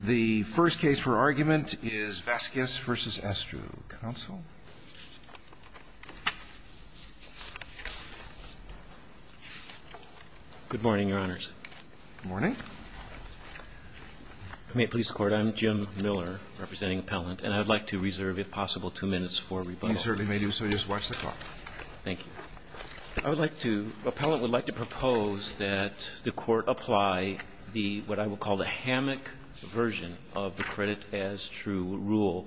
The first case for argument is Vasquez v. Astrue. Counsel. Good morning, Your Honors. Good morning. I'm Jim Miller, representing Appellant. And I would like to reserve, if possible, two minutes for rebuttal. You certainly may do so. Just watch the clock. Thank you. I would like to – Appellant would like to propose that the Court apply the – what I would call the hammock version of the credit-as-true rule.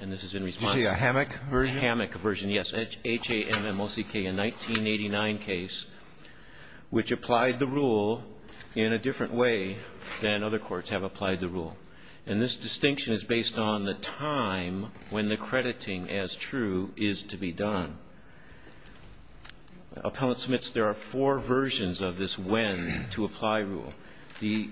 And this is in response to the hammock version, yes, H-A-M-M-O-C-K, a 1989 case, which applied the rule in a different way than other courts have applied the rule. And this distinction is based on the time when the crediting as true is to be done. Appellant submits there are four versions of this when to apply rule. The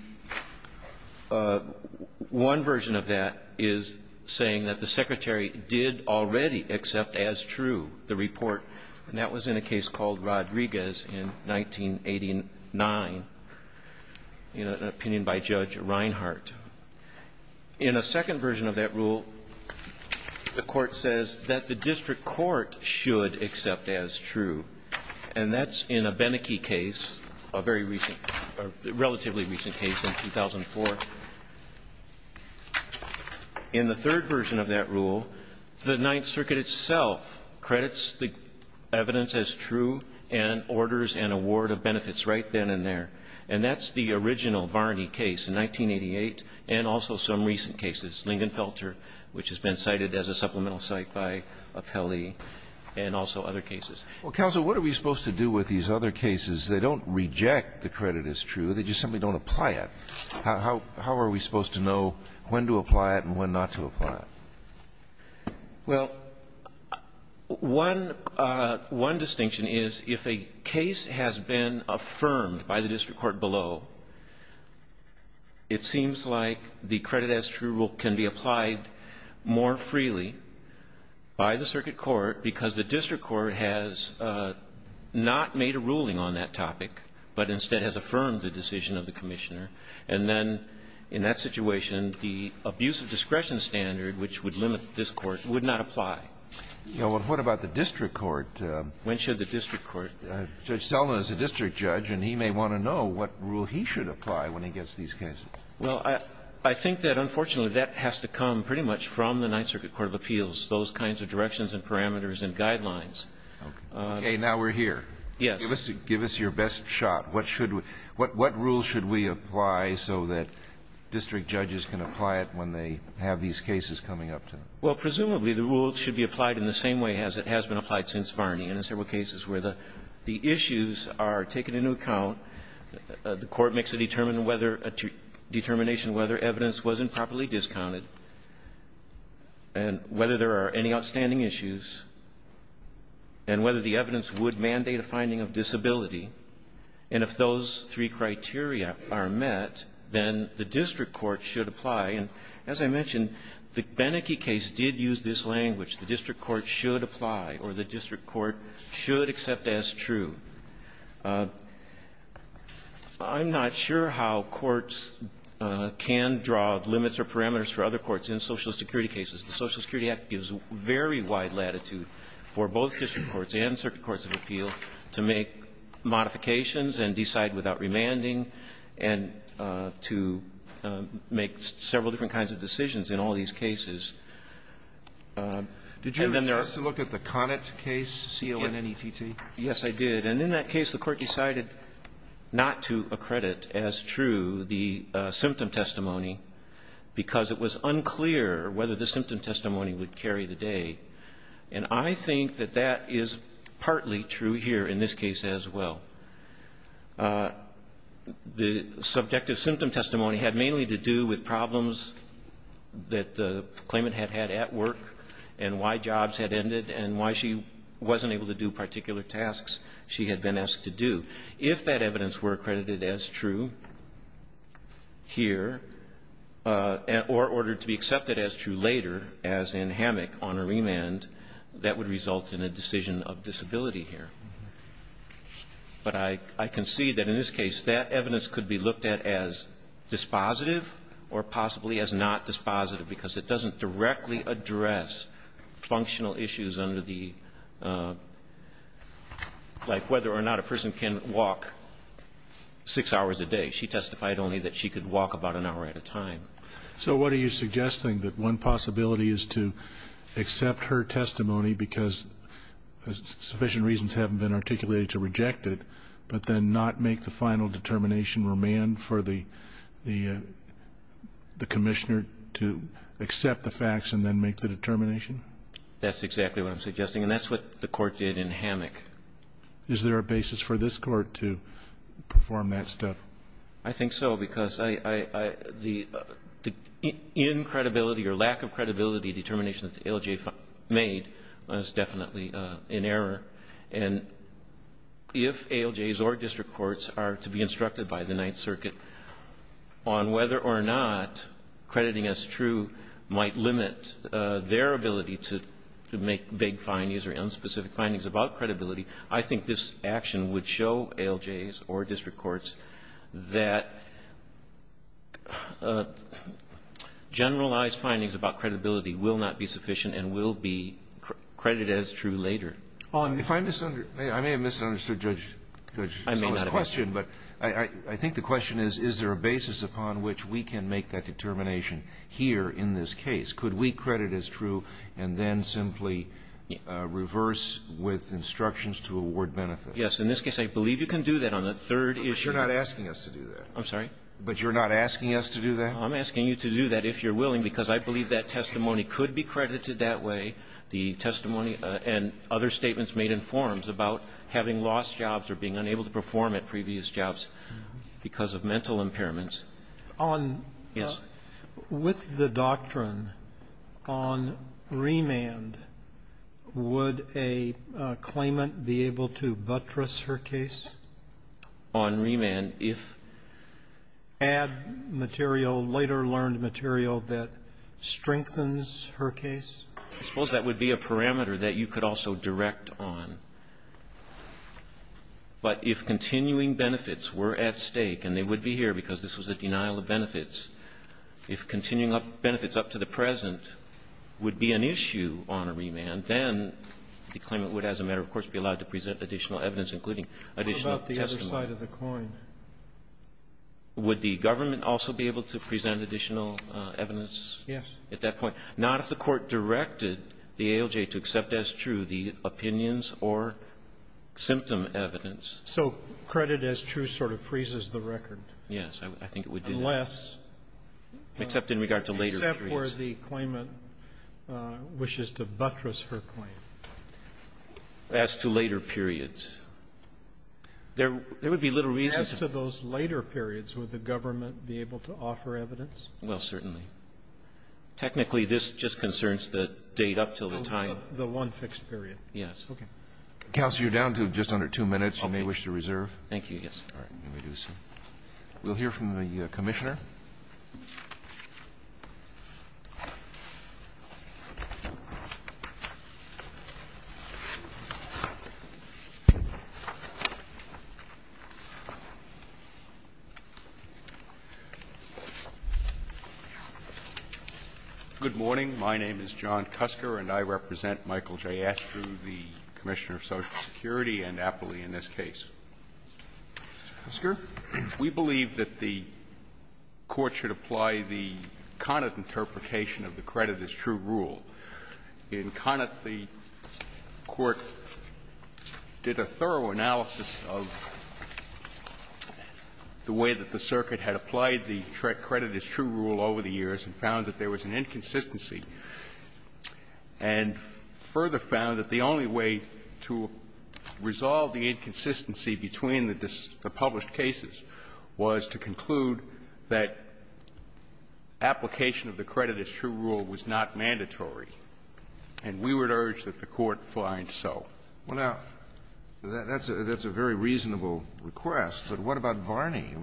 one version of that is saying that the Secretary did already accept as true the report, and that was in a case called Rodriguez in 1989, an opinion by Judge Reinhart. In a second version of that rule, the Court says that the district court should accept as true, and that's in a Beneke case, a very recent – a relatively recent case in 2004. In the third version of that rule, the Ninth Circuit itself credits the evidence as true and orders an award of benefits right then and there. And that's the original Varney case in 1988, and also some recent cases, Lingenfelter, which has been cited as a supplemental cite by Appellee, and also other cases. Kennedy, what are we supposed to do with these other cases? They don't reject the credit-as-true, they just simply don't apply it. How are we supposed to know when to apply it and when not to apply it? Well, one distinction is if a case has been affirmed by the district court below, it seems like the credit-as-true rule can be applied more freely by the circuit court because the district court has not made a ruling on that topic, but instead has affirmed the decision of the Commissioner. And then in that situation, the abuse of discretion standard, which would limit this Court, would not apply. Well, what about the district court? When should the district court? Judge Seldin is a district judge, and he may want to know what rule he should apply when he gets these cases. Well, I think that, unfortunately, that has to come pretty much from the Ninth Circuit court of appeals, those kinds of directions and parameters and guidelines. Okay. Now we're here. Yes. Give us your best shot. What should we – what rule should we apply so that district judges can apply it when they have these cases coming up to them? Well, presumably, the rule should be applied in the same way as it has been applied since Varney, and in several cases where the issues are taken into account, the Court makes a determination whether evidence wasn't properly discounted, and whether there are any outstanding issues, and whether the evidence would mandate a finding of disability. And if those three criteria are met, then the district court should apply. And as I mentioned, the Beneke case did use this language, the district court should apply, or the district court should accept as true. I'm not sure how courts can draw limits or parameters for other courts in Social Security cases. The Social Security Act gives very wide latitude for both district courts and circuit courts of appeal to make modifications and decide without remanding, and to make several different kinds of decisions in all these cases. And then there are – Did you have a chance to look at the Connett case, C-O-N-N-E-T-T? Yes, I did. And in that case, the Court decided not to accredit as true the symptom testimony because it was unclear whether the symptom testimony would carry the day. And I think that that is partly true here in this case as well. The subjective symptom testimony had mainly to do with problems that the claimant had had at work and why jobs had ended and why she wasn't able to do particular tasks she had been asked to do. If that evidence were accredited as true here, or ordered to be accepted as true later, as in Hammock on a remand, that would result in a decision of disability here. But I can see that in this case, that evidence could be looked at as dispositive or possibly as not dispositive because it doesn't directly address functional issues under the – like whether or not a person can walk 6 hours a day. She testified only that she could walk about an hour at a time. So what are you suggesting, that one possibility is to accept her testimony because sufficient reasons haven't been articulated to reject it, but then not make the final determination remand for the commissioner to accept the facts and then make the determination? That's exactly what I'm suggesting. And that's what the Court did in Hammock. Is there a basis for this Court to perform that step? I think so, because I – the – the incredibility or lack of credibility determination that the ALJ made was definitely in error. And if ALJs or district courts are to be instructed by the Ninth Circuit on whether or not crediting as true might limit their ability to make vague findings or unspecific findings about credibility, I think this action would show ALJs or district courts that generalized findings about credibility will not be sufficient and will be credited as true later. If I misunderstood – I may have misunderstood Judge Sala's question, but I think the question is, is there a basis upon which we can make that determination here in this case? Could we credit as true and then simply reverse with instructions to award benefit? Yes. In this case, I believe you can do that. On the third issue – But you're not asking us to do that. I'm sorry? But you're not asking us to do that? I'm asking you to do that, if you're willing, because I believe that testimony could be credited that way. The testimony and other statements made in forums about having lost jobs or being unable to perform at previous jobs because of mental impairments is – On – Yes. With the doctrine on remand, would a claimant be able to buttress her case? On remand, if – Add material, later learned material that strengthens her case? I suppose that would be a parameter that you could also direct on. But if continuing benefits were at stake, and they would be here because this was a denial of benefits, if continuing benefits up to the present would be an issue on a remand, then the claimant would, as a matter of course, be allowed to present additional evidence, including additional testimony. What about the other side of the coin? Would the government also be able to present additional evidence? Yes. At that point. Not if the Court directed the ALJ to accept as true the opinions or symptom evidence. So credit as true sort of freezes the record? Yes. I think it would do that. Unless – Except in regard to later periods. Except where the claimant wishes to buttress her claim. As to later periods. There would be little reason to – As to those later periods, would the government be able to offer evidence? Well, certainly. Technically, this just concerns the date up until the time – The one fixed period. Yes. Okay. Counsel, you're down to just under two minutes. You may wish to reserve. Thank you. Yes. All right. We'll hear from you. We'll hear from the Commissioner. Good morning. My name is John Kusker, and I represent Michael J. Astrew, the Commissioner of Social Security, and Appley in this case. Mr. Kusker, we believe that the Court should apply the Conant interpretation of the credit as true rule. In Conant, the Court did a thorough analysis of the way that the circuit had applied the credit as true rule over the years and found that there was an inconsistency and further found that the only way to resolve the inconsistency between the published cases was to conclude that application of the credit as true rule was not mandatory. And we would urge that the Court find so. Well, now, that's a very reasonable request, but what about Varney?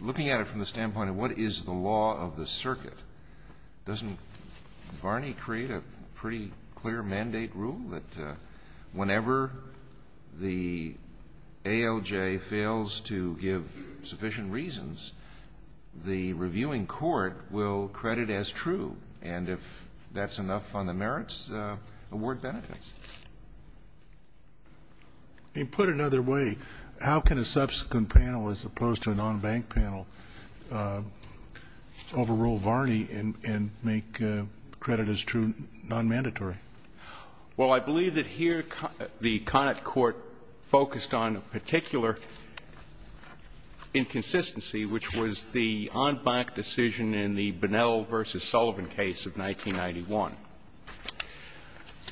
Looking at it from the standpoint of what is the law of the circuit doesn't Varney create a pretty clear mandate rule that whenever the ALJ fails to give sufficient reasons, the reviewing court will credit as true. And if that's enough on the merits, award benefits. And put another way, how can a subsequent panel as opposed to a non-bank panel overrule Varney and make credit as true non-mandatory? Well, I believe that here the Conant Court focused on a particular inconsistency, which was the on-bank decision in the Bunnell v. Sullivan case of 1991.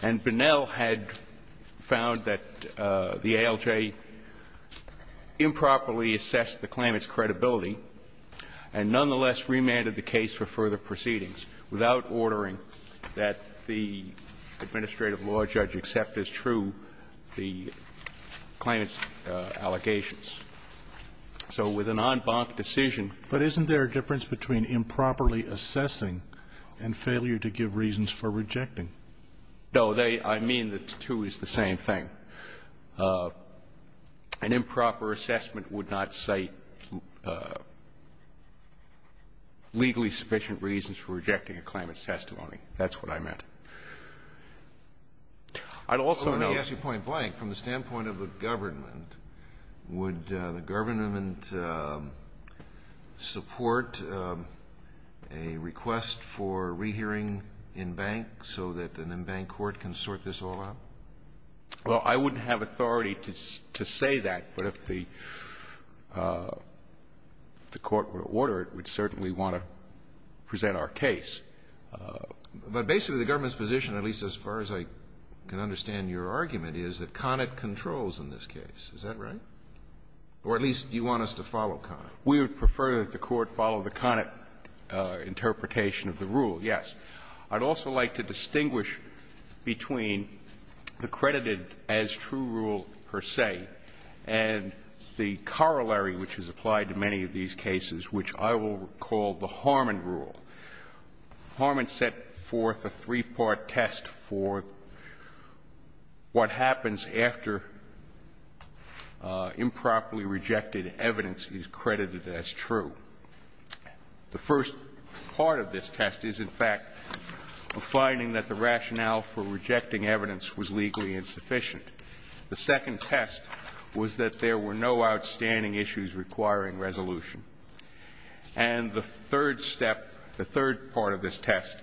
And Bunnell had found that the ALJ improperly assessed the claimant's credibility and nonetheless remanded the case for further proceedings without ordering that the administrative law judge accept as true the claimant's allegations. So with a non-bank decision they would have to give reasons for rejecting. No, they – I mean the two is the same thing. An improper assessment would not cite legally sufficient reasons for rejecting a claimant's testimony. That's what I meant. I'd also note – Let me ask you point blank. From the standpoint of a government, would the government support a request for rehearing in-bank so that an in-bank court can sort this all out? Well, I wouldn't have authority to say that, but if the court were to order it, we'd certainly want to present our case. But basically the government's position, at least as far as I can understand your argument, is that Conant controls in this case. Is that right? Or at least you want us to follow Conant. We would prefer that the Court follow the Conant interpretation of the rule, yes. I'd also like to distinguish between the credited as true rule per se and the corollary which is applied to many of these cases, which I will call the Harmon rule. Harmon set forth a three-part test for what happens after improperly rejected evidence is credited as true. The first part of this test is, in fact, a finding that the rationale for rejecting evidence was legally insufficient. The second test was that there were no outstanding issues requiring resolution. And the third step, the third part of this test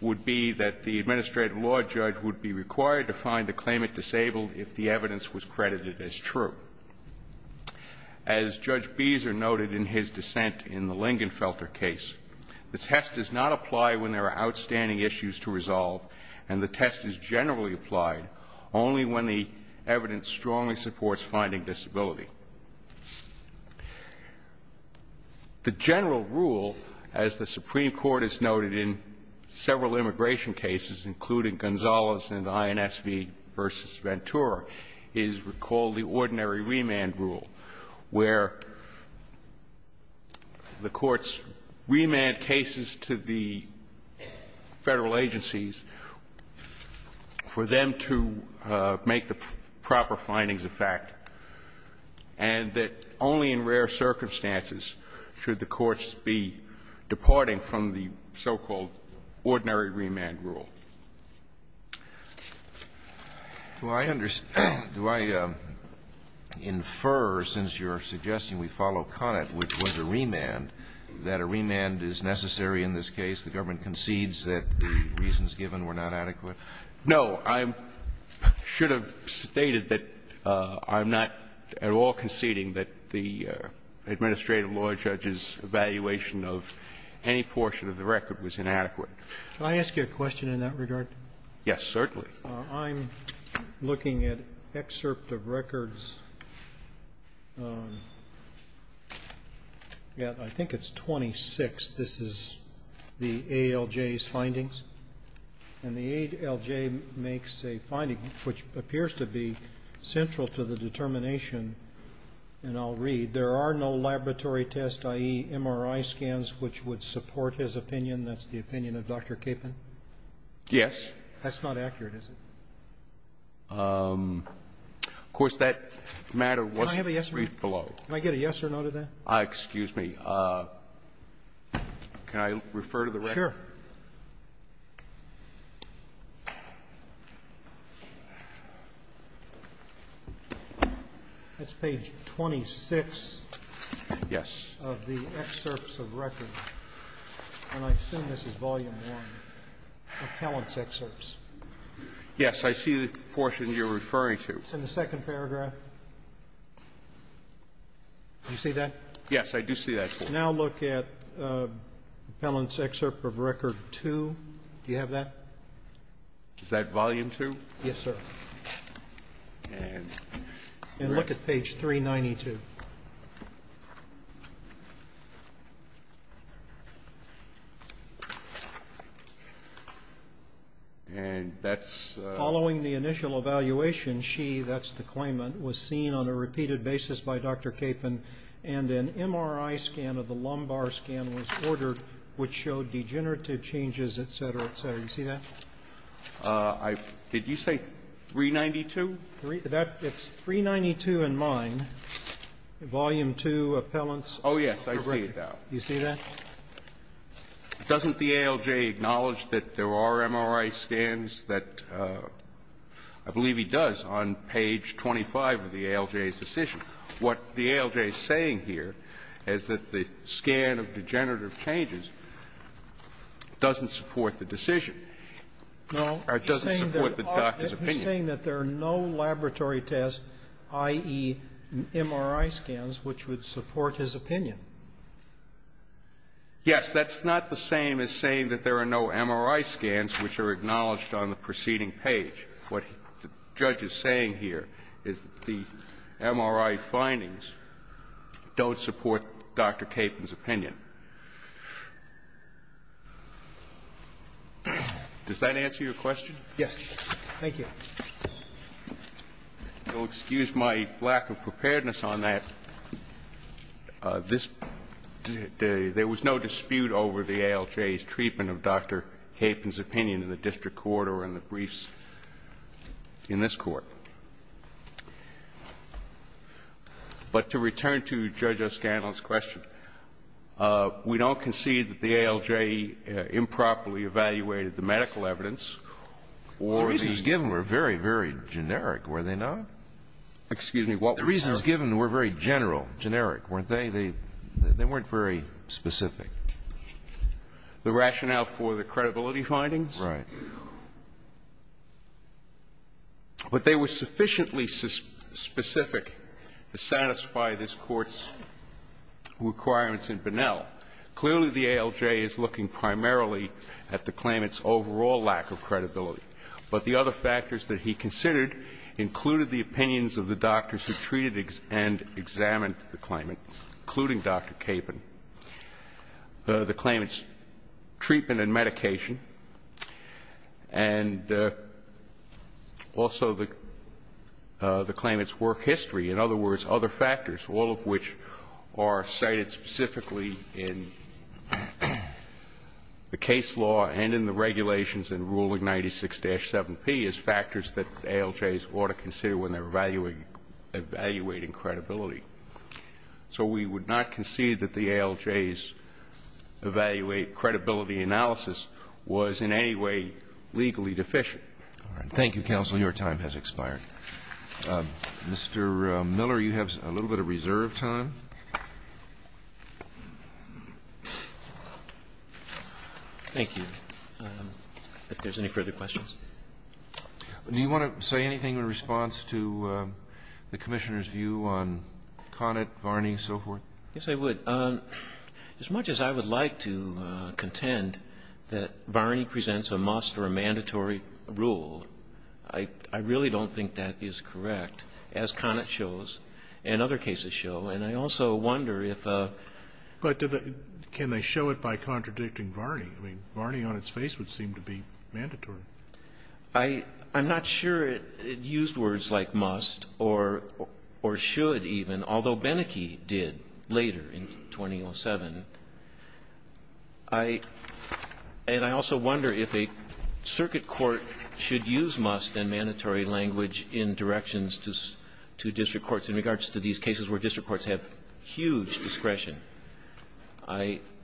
would be that the administrative law judge would be required to find the claimant disabled if the evidence was credited as true. As Judge Beezer noted in his dissent in the Lingenfelter case, the test does not apply when there are outstanding issues to resolve, and the test is generally applied only when the evidence strongly supports finding disability. The general rule, as the Supreme Court has noted in several immigration cases, including Gonzalez and INSV v. Ventura, is called the ordinary remand rule, where the courts remand cases to the Federal agencies for them to make the proper findings of fact, and that only in rare circumstances should the courts be departing from the so-called ordinary remand rule. Alito, do I infer, since you're suggesting we follow Conant, which was a remand, that a remand is necessary in this case? The government concedes that the reasons given were not adequate? No. I should have stated that I'm not at all conceding that the administrative law judge's evaluation of any portion of the record was inadequate. Can I ask you a question in that regard? Yes, certainly. I'm looking at excerpt of records, yeah, I think it's 26, this is the ALJ's findings. And the ALJ makes a finding which appears to be central to the determination, and I'll read, there are no laboratory tests, i.e., MRI scans, which would support his opinion, that's the opinion of Dr. Capon? Yes. That's not accurate, is it? Of course, that matter was briefed below. Can I get a yes or no to that? Excuse me. Can I refer to the record? Sure. That's page 26 of the excerpts of records, and I assume this is volume 1, appellant's excerpts. Yes, I see the portion you're referring to. It's in the second paragraph. Do you see that? Yes, I do see that. Now look at appellant's excerpt of record 2, do you have that? Is that volume 2? Yes, sir. And look at page 392. And that's? Following the initial evaluation, she, that's the claimant, was seen on a repeated basis by Dr. Capon, and an MRI scan of the lumbar scan was ordered, which showed degenerative changes, et cetera, et cetera. Do you see that? I, did you say 392? That, it's 392 in mine, volume 2, appellant's. Oh, yes, I see it now. Do you see that? Doesn't the ALJ acknowledge that there are MRI scans that, I believe he does, on page 25 of the ALJ's decision? What the ALJ is saying here is that the scan of degenerative changes doesn't support the decision, or doesn't support the doctor's opinion. No, he's saying that there are no laboratory tests, i.e., MRI scans, which would support his opinion. Yes, that's not the same as saying that there are no MRI scans which are acknowledged on the preceding page. What the judge is saying here is that the MRI findings don't support Dr. Capon's opinion. Does that answer your question? Yes. Thank you. If you'll excuse my lack of preparedness on that, this, there was no dispute over the ALJ's treatment of Dr. Capon's opinion in the district court or in the briefs in this Court. But to return to Judge O'Scanlon's question, we don't concede that the ALJ improperly evaluated the medical evidence or the reasons given were very, very generic, were they not? Excuse me. The reasons given were very general, generic, weren't they? They weren't very specific. The rationale for the credibility findings? Right. But they were sufficiently specific to satisfy this Court's requirements in Bunnell. Clearly, the ALJ is looking primarily at the claimant's overall lack of credibility. But the other factors that he considered included the opinions of the doctors who treated and examined the claimant, including Dr. Capon, the claimant's treatment and medication. And also the claimant's work history. In other words, other factors, all of which are cited specifically in the case law and in the regulations in Ruling 96-7P as factors that ALJs ought to consider when they're evaluating credibility. So we would not concede that the ALJs' evaluate credibility analysis was in any way legally deficient. Thank you, counsel. Your time has expired. Mr. Miller, you have a little bit of reserve time. Thank you. If there's any further questions. Do you want to say anything in response to the Commissioner's view on Connett, Varney, and so forth? Yes, I would. As much as I would like to contend that Varney presents a must or a mandatory rule, I really don't think that is correct, as Connett shows and other cases show. And I also wonder if a But can they show it by contradicting Varney? I'm not sure it used words like must or should even, although Beneke did later in 2007. I also wonder if a circuit court should use must and mandatory language in directions to district courts in regards to these cases where district courts have huge discretion.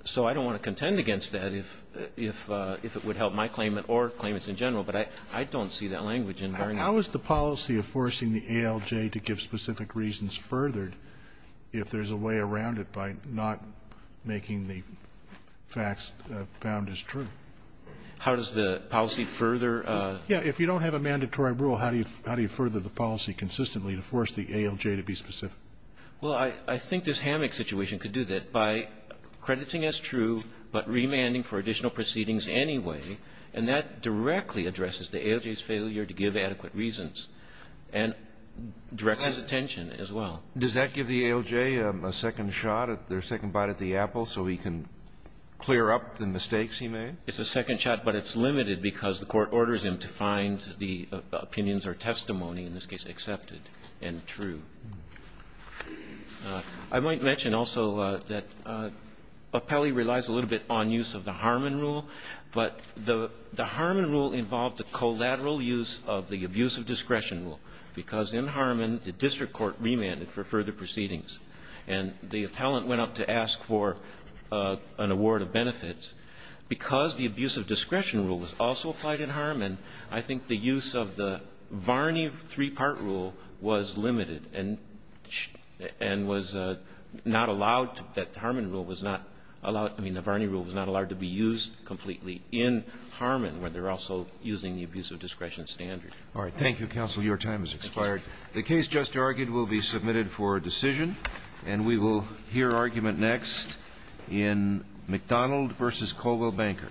So I don't want to contend against that if it would help my claimant or claimants in general, but I don't see that language in Varney. How is the policy of forcing the ALJ to give specific reasons furthered if there's a way around it by not making the facts found as true? How does the policy further? Yes. If you don't have a mandatory rule, how do you further the policy consistently to force the ALJ to be specific? Well, I think this hammock situation could do that by crediting as true, but remanding for additional proceedings anyway, and that directly addresses the ALJ's failure to give adequate reasons and directs his attention as well. Does that give the ALJ a second shot, their second bite at the apple, so he can clear up the mistakes he made? It's a second shot, but it's limited because the Court orders him to find the opinions or testimony, in this case accepted and true. I might mention also that Appellee relies a little bit on use of the Harmon rule, but the Harmon rule involved a collateral use of the abuse of discretion rule, because in Harmon the district court remanded for further proceedings, and the appellant went up to ask for an award of benefits. Because the abuse of discretion rule was also applied in Harmon, I think the use of the Varney three-part rule was limited and was not allowed, that the Harmon rule was not allowed, I mean the Varney rule was not allowed to be used completely in Harmon, where they're also using the abuse of discretion standard. All right. Thank you, counsel. Your time has expired. The case just argued will be submitted for decision, and we will hear argument next in McDonald v. Colwell Banker.